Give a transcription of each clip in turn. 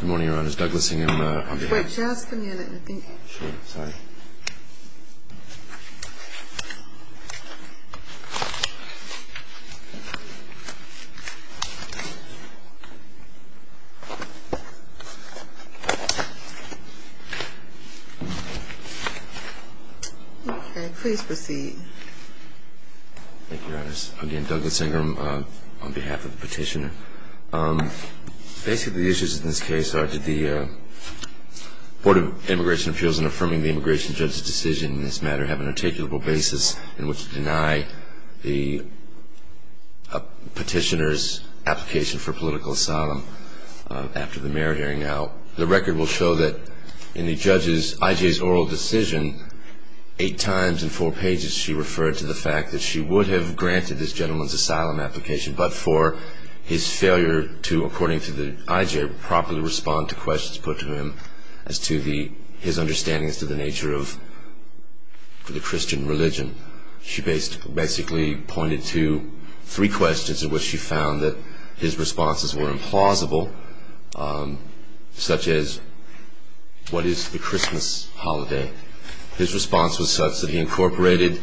Good morning, Your Honors. Douglas Ingram on behalf of the petitioner. Basically, the issues in this case are did the Board of Immigration Appeals in affirming the immigration judge's decision in this matter have an articulable basis in which to deny the petitioner's application for political asylum after the mayor hearing? Now, the record will show that in the judge's I.J.'s oral decision, eight times in four pages she referred to the fact that she would have failed to, according to the I.J., properly respond to questions put to him as to his understanding as to the nature of the Christian religion. She basically pointed to three questions in which she found that his responses were implausible, such as, what is the Christmas holiday? His response was such that he incorporated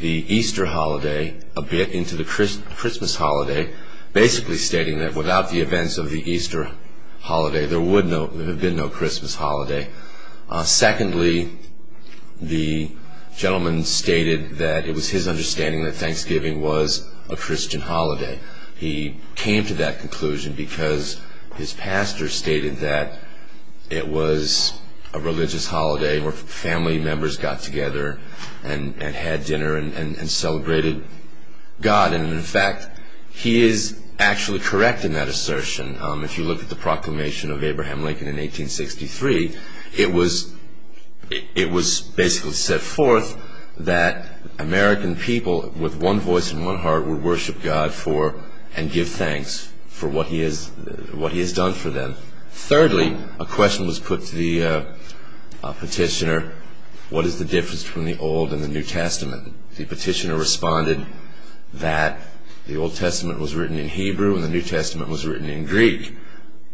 the Easter holiday a bit into the Christmas holiday, basically stating that without the events of the Easter holiday, there would have been no Christmas holiday. Secondly, the gentleman stated that it was his understanding that Thanksgiving was a Christian holiday. He came to that conclusion because his pastor stated that it was a religious holiday where family members got together and had dinner and celebrated God. And, in fact, he is actually correct in that assertion. If you look at the proclamation of Abraham Lincoln in 1863, it was basically set forth that American people with one voice and one heart would go before and give thanks for what he has done for them. Thirdly, a question was put to the petitioner, what is the difference between the Old and the New Testament? The petitioner responded that the Old Testament was written in Hebrew and the New Testament was written in Greek.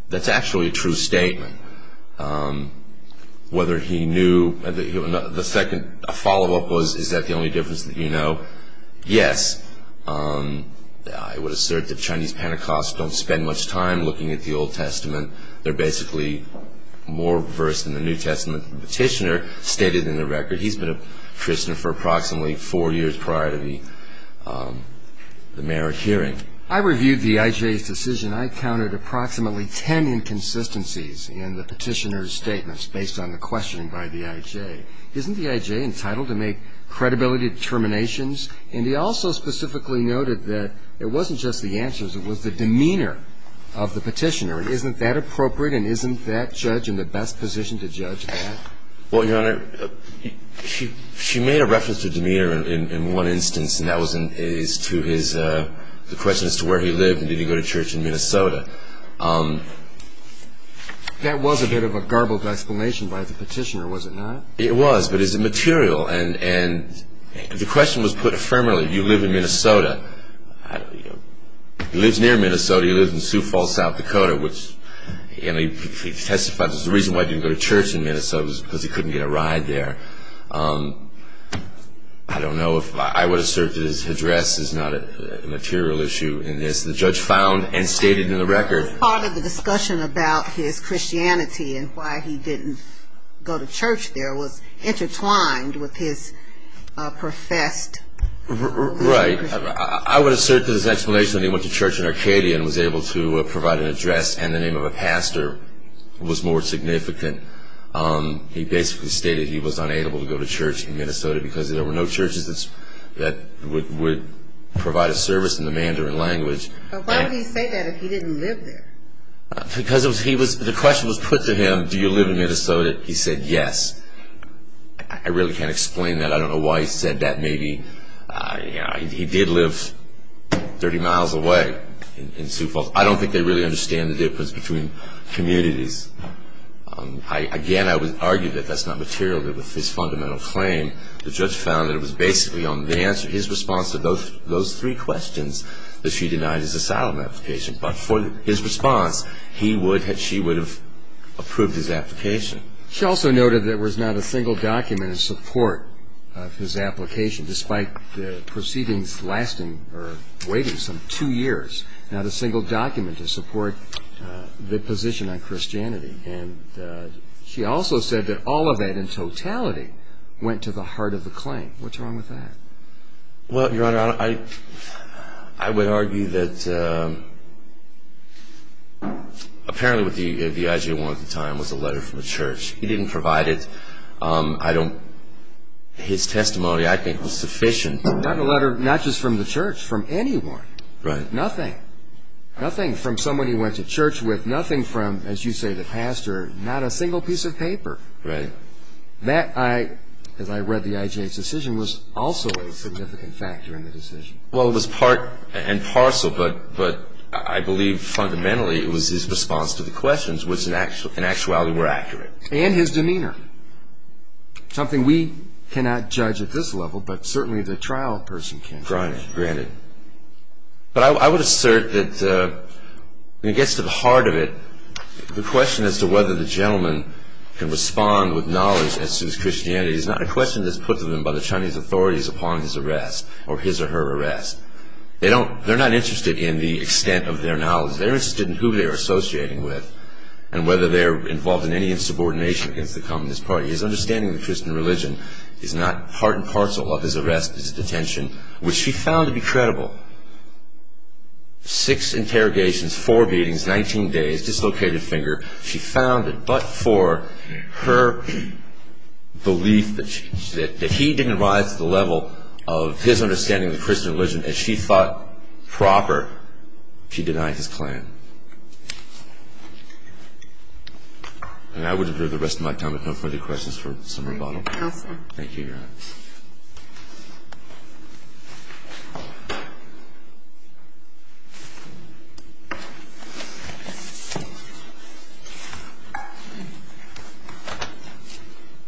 That's actually a true statement. The second follow-up was, is that the only difference that you know? Yes. I would assert that Chinese Pentecostals don't spend much time looking at the Old Testament. They're basically more versed in the New Testament. The petitioner stated in the record he's been a Christian for approximately four years prior to the marriage hearing. I reviewed the I.J.'s decision. I counted approximately ten inconsistencies in the petitioner's statements based on the questioning by the I.J. Isn't the I.J. entitled to make credibility determinations? And he also specifically noted that it wasn't just the answers, it was the demeanor of the petitioner. Isn't that appropriate and isn't that judge in the best position to judge that? Well, Your Honor, she made a reference to demeanor in one instance and that was to the question as to where he lived and did he go to church in Minnesota. That was a bit of a garbled explanation by the petitioner, was it not? It was, but it's immaterial and the question was put affirmatively. You live in Minnesota. He lives near Minnesota. He lives in Sioux Falls, South Dakota. He testified that the reason why he didn't go to church in Minnesota was because he couldn't get a ride there. I don't know if I would assert that his address is not a material issue in this. The judge found and stated in the record. Part of the discussion about his Christianity and why he didn't go to church there was intertwined with his professed. Right. I would assert that his explanation that he went to church in Arcadia and was able to provide an address and the name of a pastor was more significant. He basically stated he was unable to go to church in Minnesota because there were no churches that would provide a service in the Mandarin language. But why did he say that if he didn't live there? Because the question was put to him, do you live in Minnesota? He said yes. I really can't explain that. I don't know why he said that. He did live 30 miles away in Sioux Falls. I don't think they really understand the difference between communities. Again, I would argue that that's not material. With his fundamental claim, the judge found that it was basically his response to those three questions that she denied his asylum application. But for his response, she would have approved his application. She also noted there was not a single document in support of his application, despite the proceedings lasting or waiting some two years, not a single document to support the position on Christianity. And she also said that all of that in totality went to the heart of the claim. What's wrong with that? Well, Your Honor, I would argue that apparently what the IGA wanted at the time was a letter from the church. He didn't provide it. His testimony, I think, was sufficient. Not just from the church, from anyone. Nothing. Nothing from someone he went to church with. Nothing from, as you say, the pastor. Not a single piece of paper. Right. That, as I read the IGA's decision, was also a significant factor in the decision. Well, it was part and parcel, but I believe fundamentally it was his response to the questions which in actuality were accurate. And his demeanor. Something we cannot judge at this level, but certainly the trial person can. Granted. But I would assert that when it gets to the heart of it, the question as to whether the gentleman can respond with knowledge as to his Christianity is not a question that's put to him by the Chinese authorities upon his arrest or his or her arrest. They're not interested in the extent of their knowledge. They're interested in who they're associating with and whether they're involved in any insubordination against the Communist Party. His understanding of the Christian religion is not part and parcel of his arrest, his detention, which he found to be credible. Six interrogations, four beatings, 19 days, dislocated finger. She found it. But for her belief that he didn't rise to the level of his understanding of the Christian religion as she thought proper, she denied his claim. And I would defer the rest of my time, if no further questions, for some rebuttal. Thank you, Your Honor.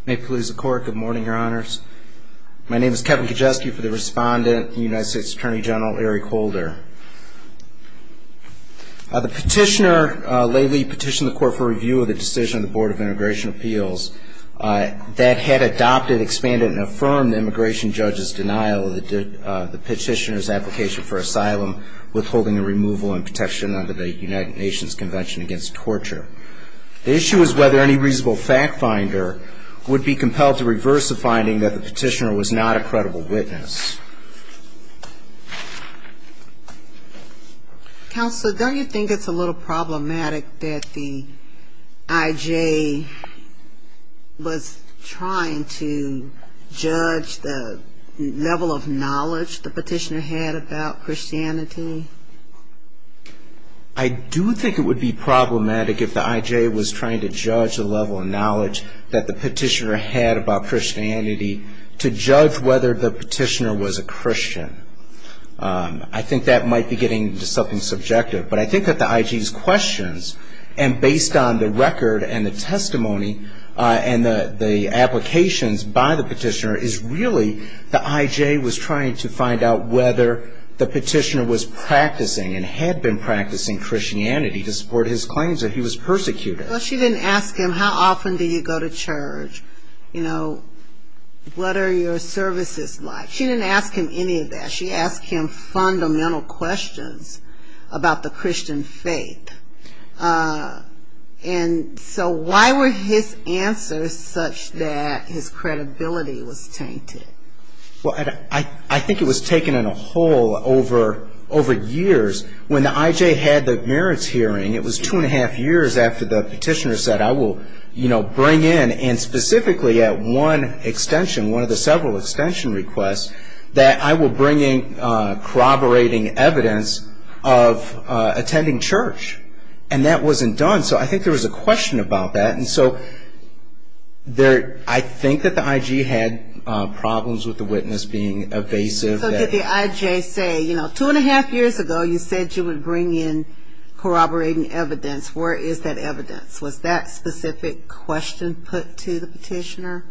May it please the Court. Good morning, Your Honors. My name is Kevin Kijewski for the respondent, the United States Attorney General, Eric Holder. The petitioner lately petitioned the Court for review of the decision of the Board of Immigration Appeals that had adopted, expanded, and affirmed the immigration judge's denial of the petitioner's application for review. The issue is whether any reasonable fact finder would be compelled to reverse the finding that the petitioner was not a credible witness. Counsel, don't you think it's a little problematic that the IJ was trying to judge the level of knowledge the petitioner had about Christianity? I do think it would be problematic if the IJ was trying to judge the level of knowledge that the petitioner had about Christianity to judge whether the petitioner was a Christian. I think that might be getting into something subjective, but I think that the IJ's questions, and based on the record and the testimony and the applications by the petitioner, is really the IJ was trying to find out whether the petitioner was practicing and had been practicing Christianity to support his claims that he was persecuted. Well, she didn't ask him, how often do you go to church? You know, what are your services like? She didn't ask him any of that. She asked him fundamental questions about the Christian faith. And so why were his answers such that his credibility was tainted? Well, I think it was taken in a whole over years. When the IJ had the merits hearing, it was two and a half years after the petitioner said, I will bring in, and specifically at one extension, one of the several extension requests, that I will bring in corroborating evidence of attending church. And that wasn't done, so I think there was a question about that. And so I think that the IG had problems with the witness being evasive. So did the IJ say, you know, two and a half years ago you said you would bring in corroborating evidence. Where is that evidence? Was that specific question put to the petitioner?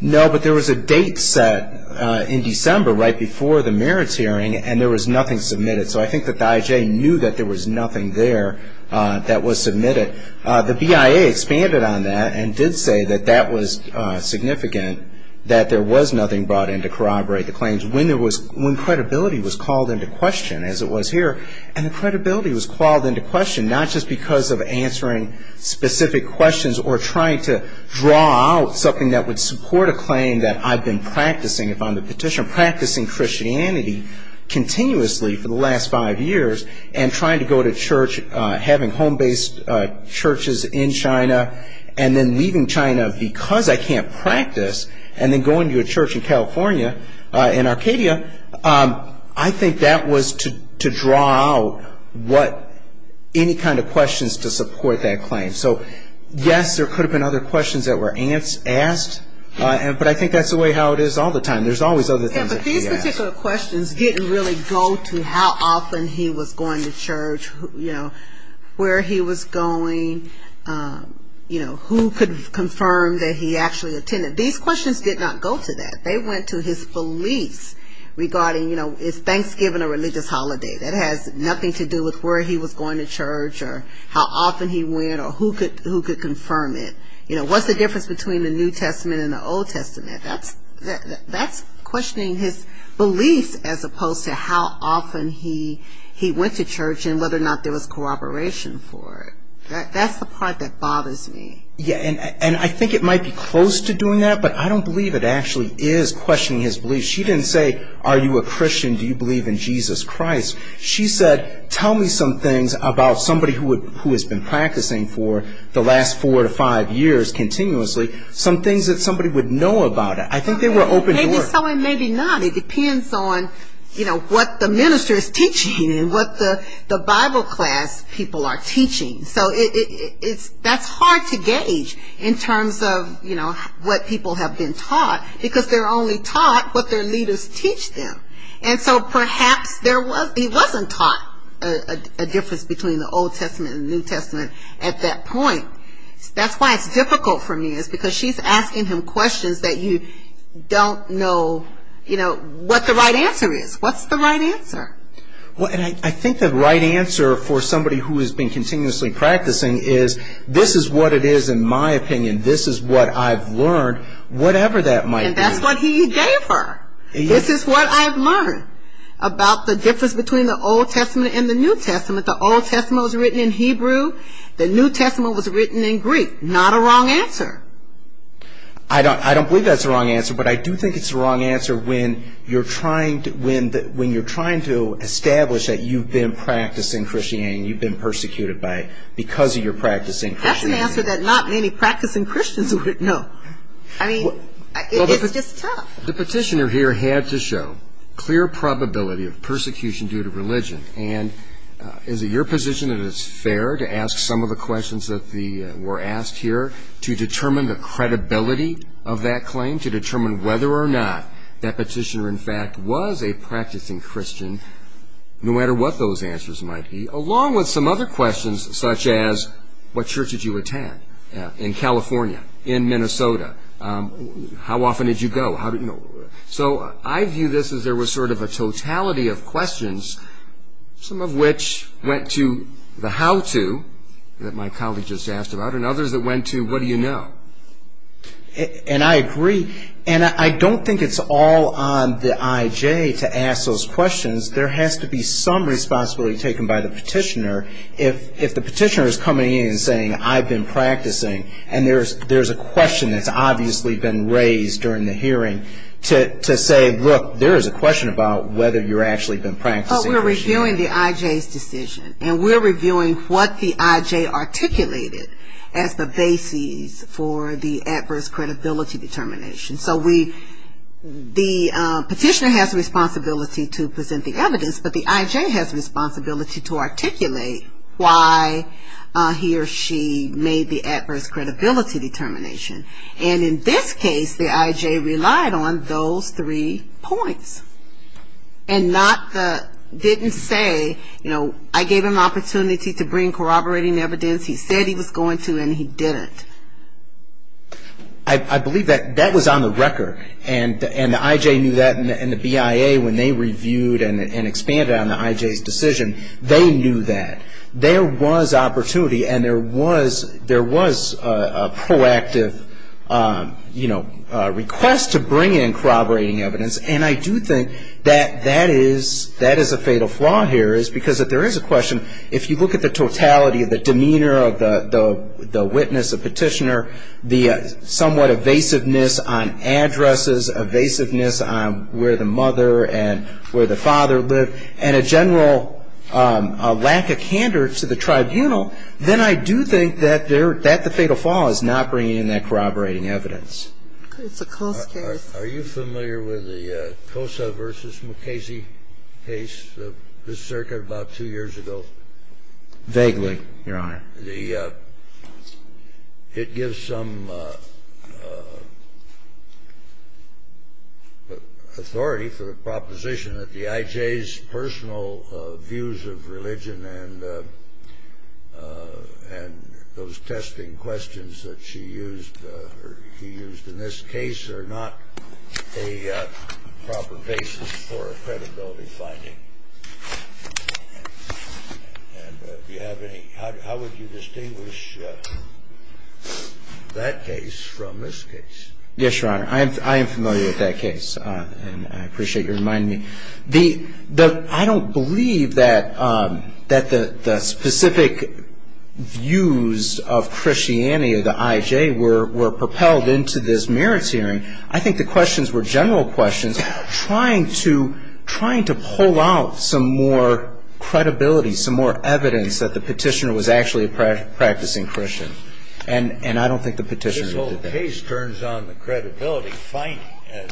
No, but there was a date set in December, right before the merits hearing, and there was nothing submitted. So I think that the IJ knew that there was nothing there that was submitted. The BIA expanded on that and did say that that was significant, that there was nothing brought in to corroborate the claims. When credibility was called into question, as it was here, and the credibility was called into question, not just because of answering specific questions or trying to draw out something that would support a claim that I've been practicing, if I'm the petitioner, practicing Christianity continuously for the last five years, and trying to go to church, having home-based churches in China, and then leaving China because I can't practice, and then going to a church in California, in Arcadia, I think that was to draw out any kind of questions to support that claim. So, yes, there could have been other questions that were asked, but I think that's the way how it is all the time. There's always other things that can be asked. Yeah, but these particular questions didn't really go to how often he was going to church, where he was going, who could confirm that he actually attended. These questions did not go to that. They went to his beliefs regarding, you know, is Thanksgiving a religious holiday. That has nothing to do with where he was going to church or how often he went or who could confirm it. You know, what's the difference between the New Testament and the Old Testament? That's questioning his beliefs as opposed to how often he went to church and whether or not there was corroboration for it. That's the part that bothers me. Yeah, and I think it might be close to doing that, but I don't believe it actually is questioning his beliefs. She didn't say, are you a Christian, do you believe in Jesus Christ? She said, tell me some things about somebody who has been practicing for the last four to five years continuously, some things that somebody would know about it. I think they were open doors. Maybe so and maybe not. It depends on, you know, what the minister is teaching and what the Bible class people are teaching. So that's hard to gauge in terms of, you know, what people have been taught, because they're only taught what their leaders teach them. And so perhaps he wasn't taught a difference between the Old Testament and the New Testament at that point. That's why it's difficult for me is because she's asking him questions that you don't know, you know, what the right answer is. What's the right answer? Well, and I think the right answer for somebody who has been continuously practicing is, this is what it is in my opinion. This is what I've learned, whatever that might be. And that's what he gave her. This is what I've learned about the difference between the Old Testament and the New Testament. The Old Testament was written in Hebrew. The New Testament was written in Greek. Not a wrong answer. I don't believe that's the wrong answer, but I do think it's the wrong answer when you're trying to establish that you've been practicing Christianity and you've been persecuted because of your practicing Christianity. That's an answer that not many practicing Christians would know. I mean, it's just tough. The petitioner here had to show clear probability of persecution due to religion, and is it your position that it's fair to ask some of the questions that were asked here to determine the credibility of that claim, to determine whether or not that petitioner in fact was a practicing Christian, no matter what those answers might be, along with some other questions such as what church did you attend in California, in Minnesota, how often did you go. So I view this as there was sort of a totality of questions, some of which went to the how-to that my colleague just asked about, and others that went to what do you know. And I agree. And I don't think it's all on the IJ to ask those questions. There has to be some responsibility taken by the petitioner. If the petitioner is coming in and saying, I've been practicing, and there's a question that's obviously been raised during the hearing to say, look, there is a question about whether you've actually been practicing. But we're reviewing the IJ's decision, and we're reviewing what the IJ articulated as the basis for the adverse credibility determination. So the petitioner has a responsibility to present the evidence, but the IJ has a responsibility to articulate why he or she made the adverse credibility determination. And in this case, the IJ relied on those three points, and didn't say, you know, I gave him the opportunity to bring corroborating evidence, he said he was going to, and he didn't. I believe that was on the record, and the IJ knew that, and the BIA when they reviewed and expanded on the IJ's decision, they knew that. There was opportunity, and there was a proactive, you know, request to bring in corroborating evidence, and I do think that that is a fatal flaw here is because if there is a question, if you look at the totality of the demeanor of the witness, the petitioner, the somewhat evasiveness on addresses, evasiveness on where the mother and where the father lived, and a general lack of candor to the tribunal, then I do think that the fatal flaw is not bringing in that corroborating evidence. It's a close case. Are you familiar with the Cosa v. McCasey case of this circuit about two years ago? Vaguely, Your Honor. It gives some authority for the proposition that the IJ's personal views of religion and those testing questions that she used, or he used in this case, are not a proper basis for a credibility finding. And if you have any, how would you distinguish that case from this case? Yes, Your Honor. I am familiar with that case, and I appreciate your reminding me. I don't believe that the specific views of Christianity, of the IJ, were propelled into this merits hearing. I think the questions were general questions trying to pull out some more credibility, some more evidence that the petitioner was actually a practicing Christian. And I don't think the petitioner did that. The case turns on the credibility finding and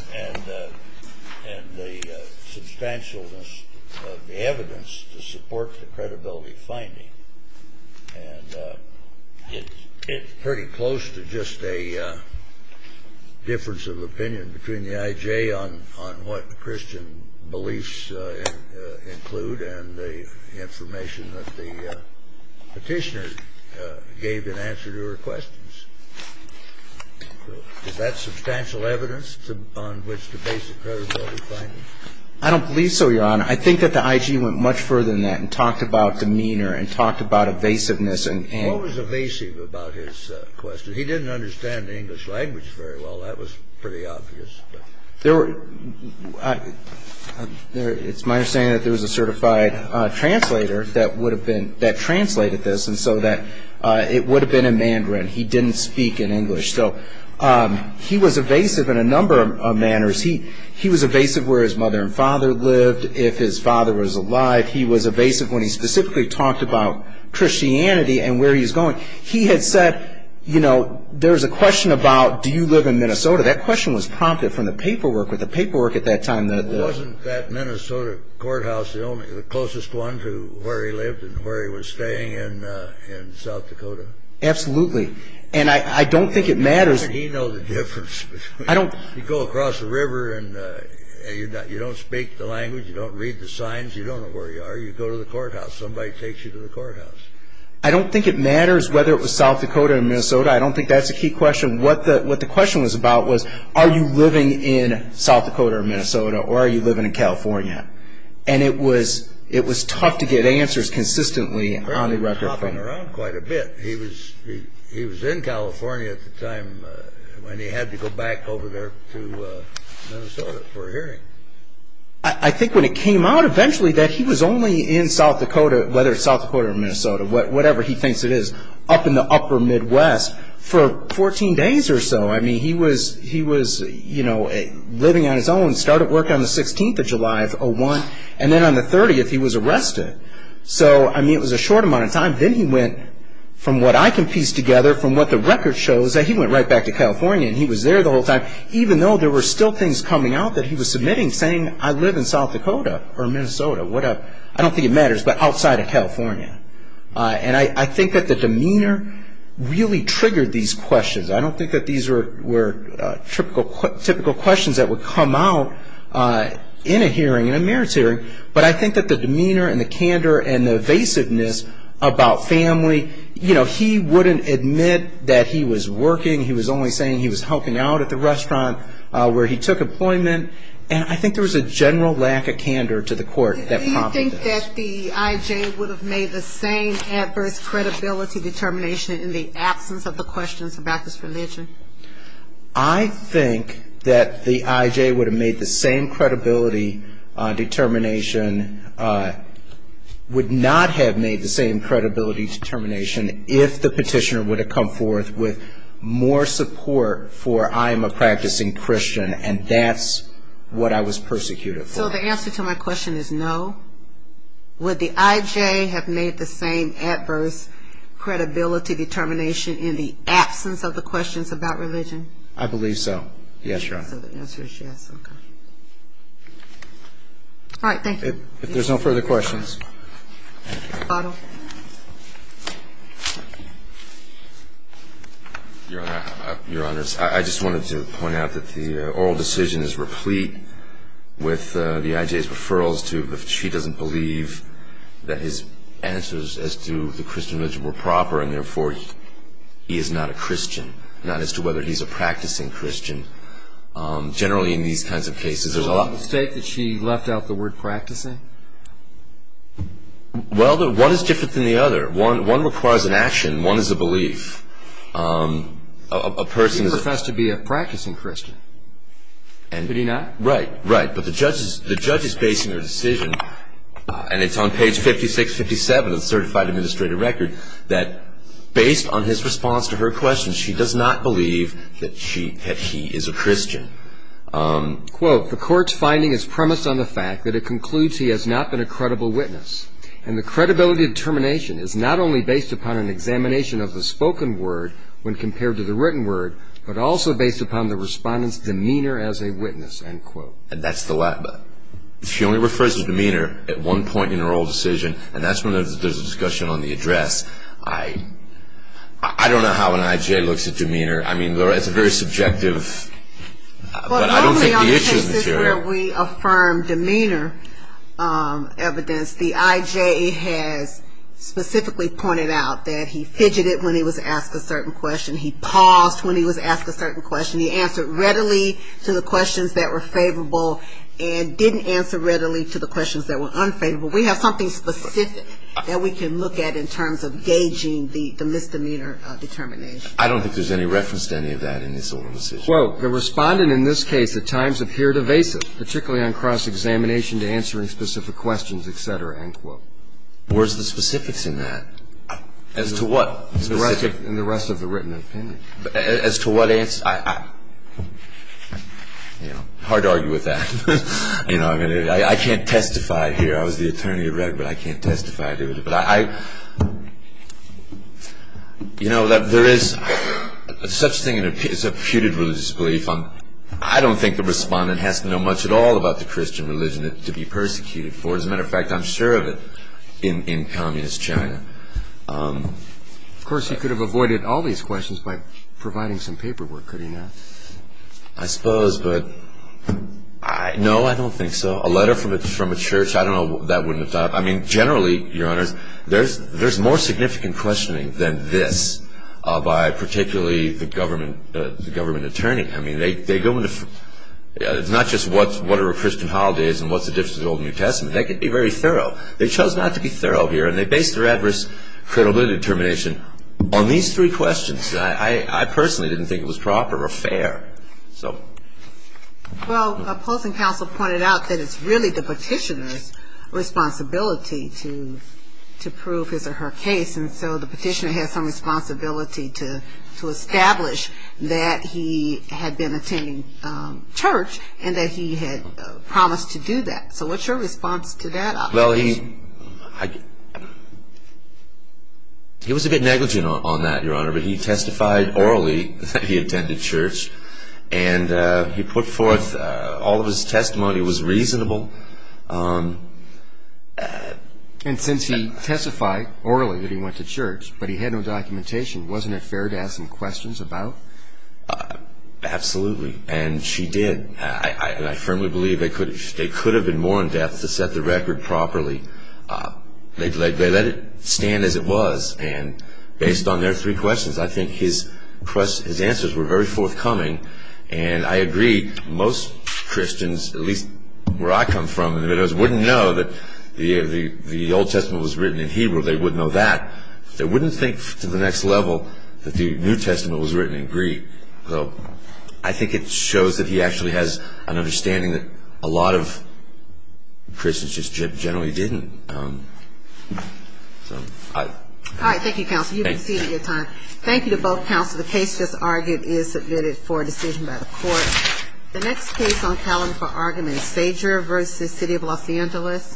the substantialness of the evidence to support the credibility finding. And it's pretty close to just a difference of opinion between the IJ on what Christian beliefs include and the information that the petitioner gave in answer to her questions. So is that substantial evidence on which to base the credibility finding? I don't believe so, Your Honor. I think that the IJ went much further than that and talked about demeanor and talked about evasiveness. What was evasive about his question? He didn't understand the English language very well. That was pretty obvious. It's my understanding that there was a certified translator that translated this and so that it would have been in Mandarin. He didn't speak in English. So he was evasive in a number of manners. He was evasive where his mother and father lived, if his father was alive. He was evasive when he specifically talked about Christianity and where he was going. He had said, you know, there's a question about do you live in Minnesota. That question was prompted from the paperwork at that time. Wasn't that Minnesota courthouse the closest one to where he lived and where he was staying in South Dakota? Absolutely, and I don't think it matters. I don't think he knows the difference. You go across the river and you don't speak the language. You don't read the signs. You don't know where you are. You go to the courthouse. Somebody takes you to the courthouse. I don't think it matters whether it was South Dakota or Minnesota. I don't think that's a key question. What the question was about was are you living in South Dakota or Minnesota or are you living in California? And it was tough to get answers consistently on the record. He was hopping around quite a bit. He was in California at the time when he had to go back over there to Minnesota for a hearing. I think when it came out eventually that he was only in South Dakota, whether it's South Dakota or Minnesota, whatever he thinks it is, up in the upper Midwest for 14 days or so. He was living on his own, started working on the 16th of July of 2001, and then on the 30th he was arrested. So it was a short amount of time. Then he went, from what I can piece together, from what the record shows, that he went right back to California and he was there the whole time, even though there were still things coming out that he was submitting saying, I live in South Dakota or Minnesota, whatever. I don't think it matters, but outside of California. And I think that the demeanor really triggered these questions. I don't think that these were typical questions that would come out in a hearing, in a merits hearing, but I think that the demeanor and the candor and the evasiveness about family. He wouldn't admit that he was working. He was only saying he was helping out at the restaurant where he took employment. And I think there was a general lack of candor to the court that prompted this. Do you think that the IJ would have made the same adverse credibility determination in the absence of the questions about this religion? I think that the IJ would have made the same credibility determination, would not have made the same credibility determination, if the petitioner would have come forth with more support for I am a practicing Christian, and that's what I was persecuted for. So the answer to my question is no. Would the IJ have made the same adverse credibility determination in the absence of the questions about religion? I believe so. Yes, Your Honor. So the answer is yes. Okay. All right. Thank you. If there's no further questions. Your Honor, I just wanted to point out that the oral decision is replete with the IJ's referrals to if she doesn't believe that his answers as to the Christian religion were proper and therefore he is not a Christian, not as to whether he's a practicing Christian. Generally in these kinds of cases there's a lot of... Was it a mistake that she left out the word practicing? Well, one is different than the other. One requires an action. One is a belief. A person... He professed to be a practicing Christian. Did he not? Right. Right. But the judge is basing her decision, and it's on page 5657 of the certified administrative record, that based on his response to her question she does not believe that he is a Christian. Quote, The court's finding is premised on the fact that it concludes he has not been a credible witness, and the credibility determination is not only based upon an examination of the spoken word when compared to the written word, but also based upon the respondent's demeanor as a witness. End quote. She only refers to demeanor at one point in her whole decision, and that's when there's a discussion on the address. I don't know how an IJ looks at demeanor. I mean, it's a very subjective... But only on cases where we affirm demeanor evidence. The IJ has specifically pointed out that he fidgeted when he was asked a certain question. He paused when he was asked a certain question. He answered readily to the questions that were favorable and didn't answer readily to the questions that were unfavorable. We have something specific that we can look at in terms of gauging the misdemeanor determination. I don't think there's any reference to any of that in this alumnus' decision. Quote, The respondent in this case at times appeared evasive, particularly on cross-examination to answering specific questions, etc. End quote. Where's the specifics in that? As to what? In the rest of the written opinion. As to what answer? Hard to argue with that. I can't testify here. I was the attorney at record. I can't testify to it. But I, you know, there is such thing as a putative religious belief. I don't think the respondent has to know much at all about the Christian religion to be persecuted for. As a matter of fact, I'm sure of it in communist China. Of course, he could have avoided all these questions by providing some paperwork, could he not? I suppose, but no, I don't think so. A letter from a church, I don't know, that wouldn't have done it. I mean, generally, Your Honors, there's more significant questioning than this by particularly the government attorney. I mean, they go into, it's not just what are Christian holidays and what's the difference between the Old and New Testament. They could be very thorough. They chose not to be thorough here, and they based their adverse credibility determination on these three questions. I personally didn't think it was proper or fair. Well, opposing counsel pointed out that it's really the petitioner's responsibility to prove his or her case. And so the petitioner has some responsibility to establish that he had been attending church and that he had promised to do that. So what's your response to that? Well, he was a bit negligent on that, Your Honor, but he testified orally that he attended church. And he put forth all of his testimony. It was reasonable. And since he testified orally that he went to church, but he had no documentation, wasn't it fair to ask him questions about? Absolutely. And she did. And I firmly believe they could have been more in-depth to set the record properly. They let it stand as it was. And based on their three questions, I think his answers were very forthcoming. And I agree, most Christians, at least where I come from in the Middle East, wouldn't know that the Old Testament was written in Hebrew. They wouldn't know that. They wouldn't think to the next level that the New Testament was written in Greek. So I think it shows that he actually has an understanding that a lot of Christians just generally didn't. All right. Thank you, counsel. You've exceeded your time. Thank you to both counsel. The case just argued is submitted for a decision by the court. The next case on calendar for argument is Sager v. City of Los Angeles.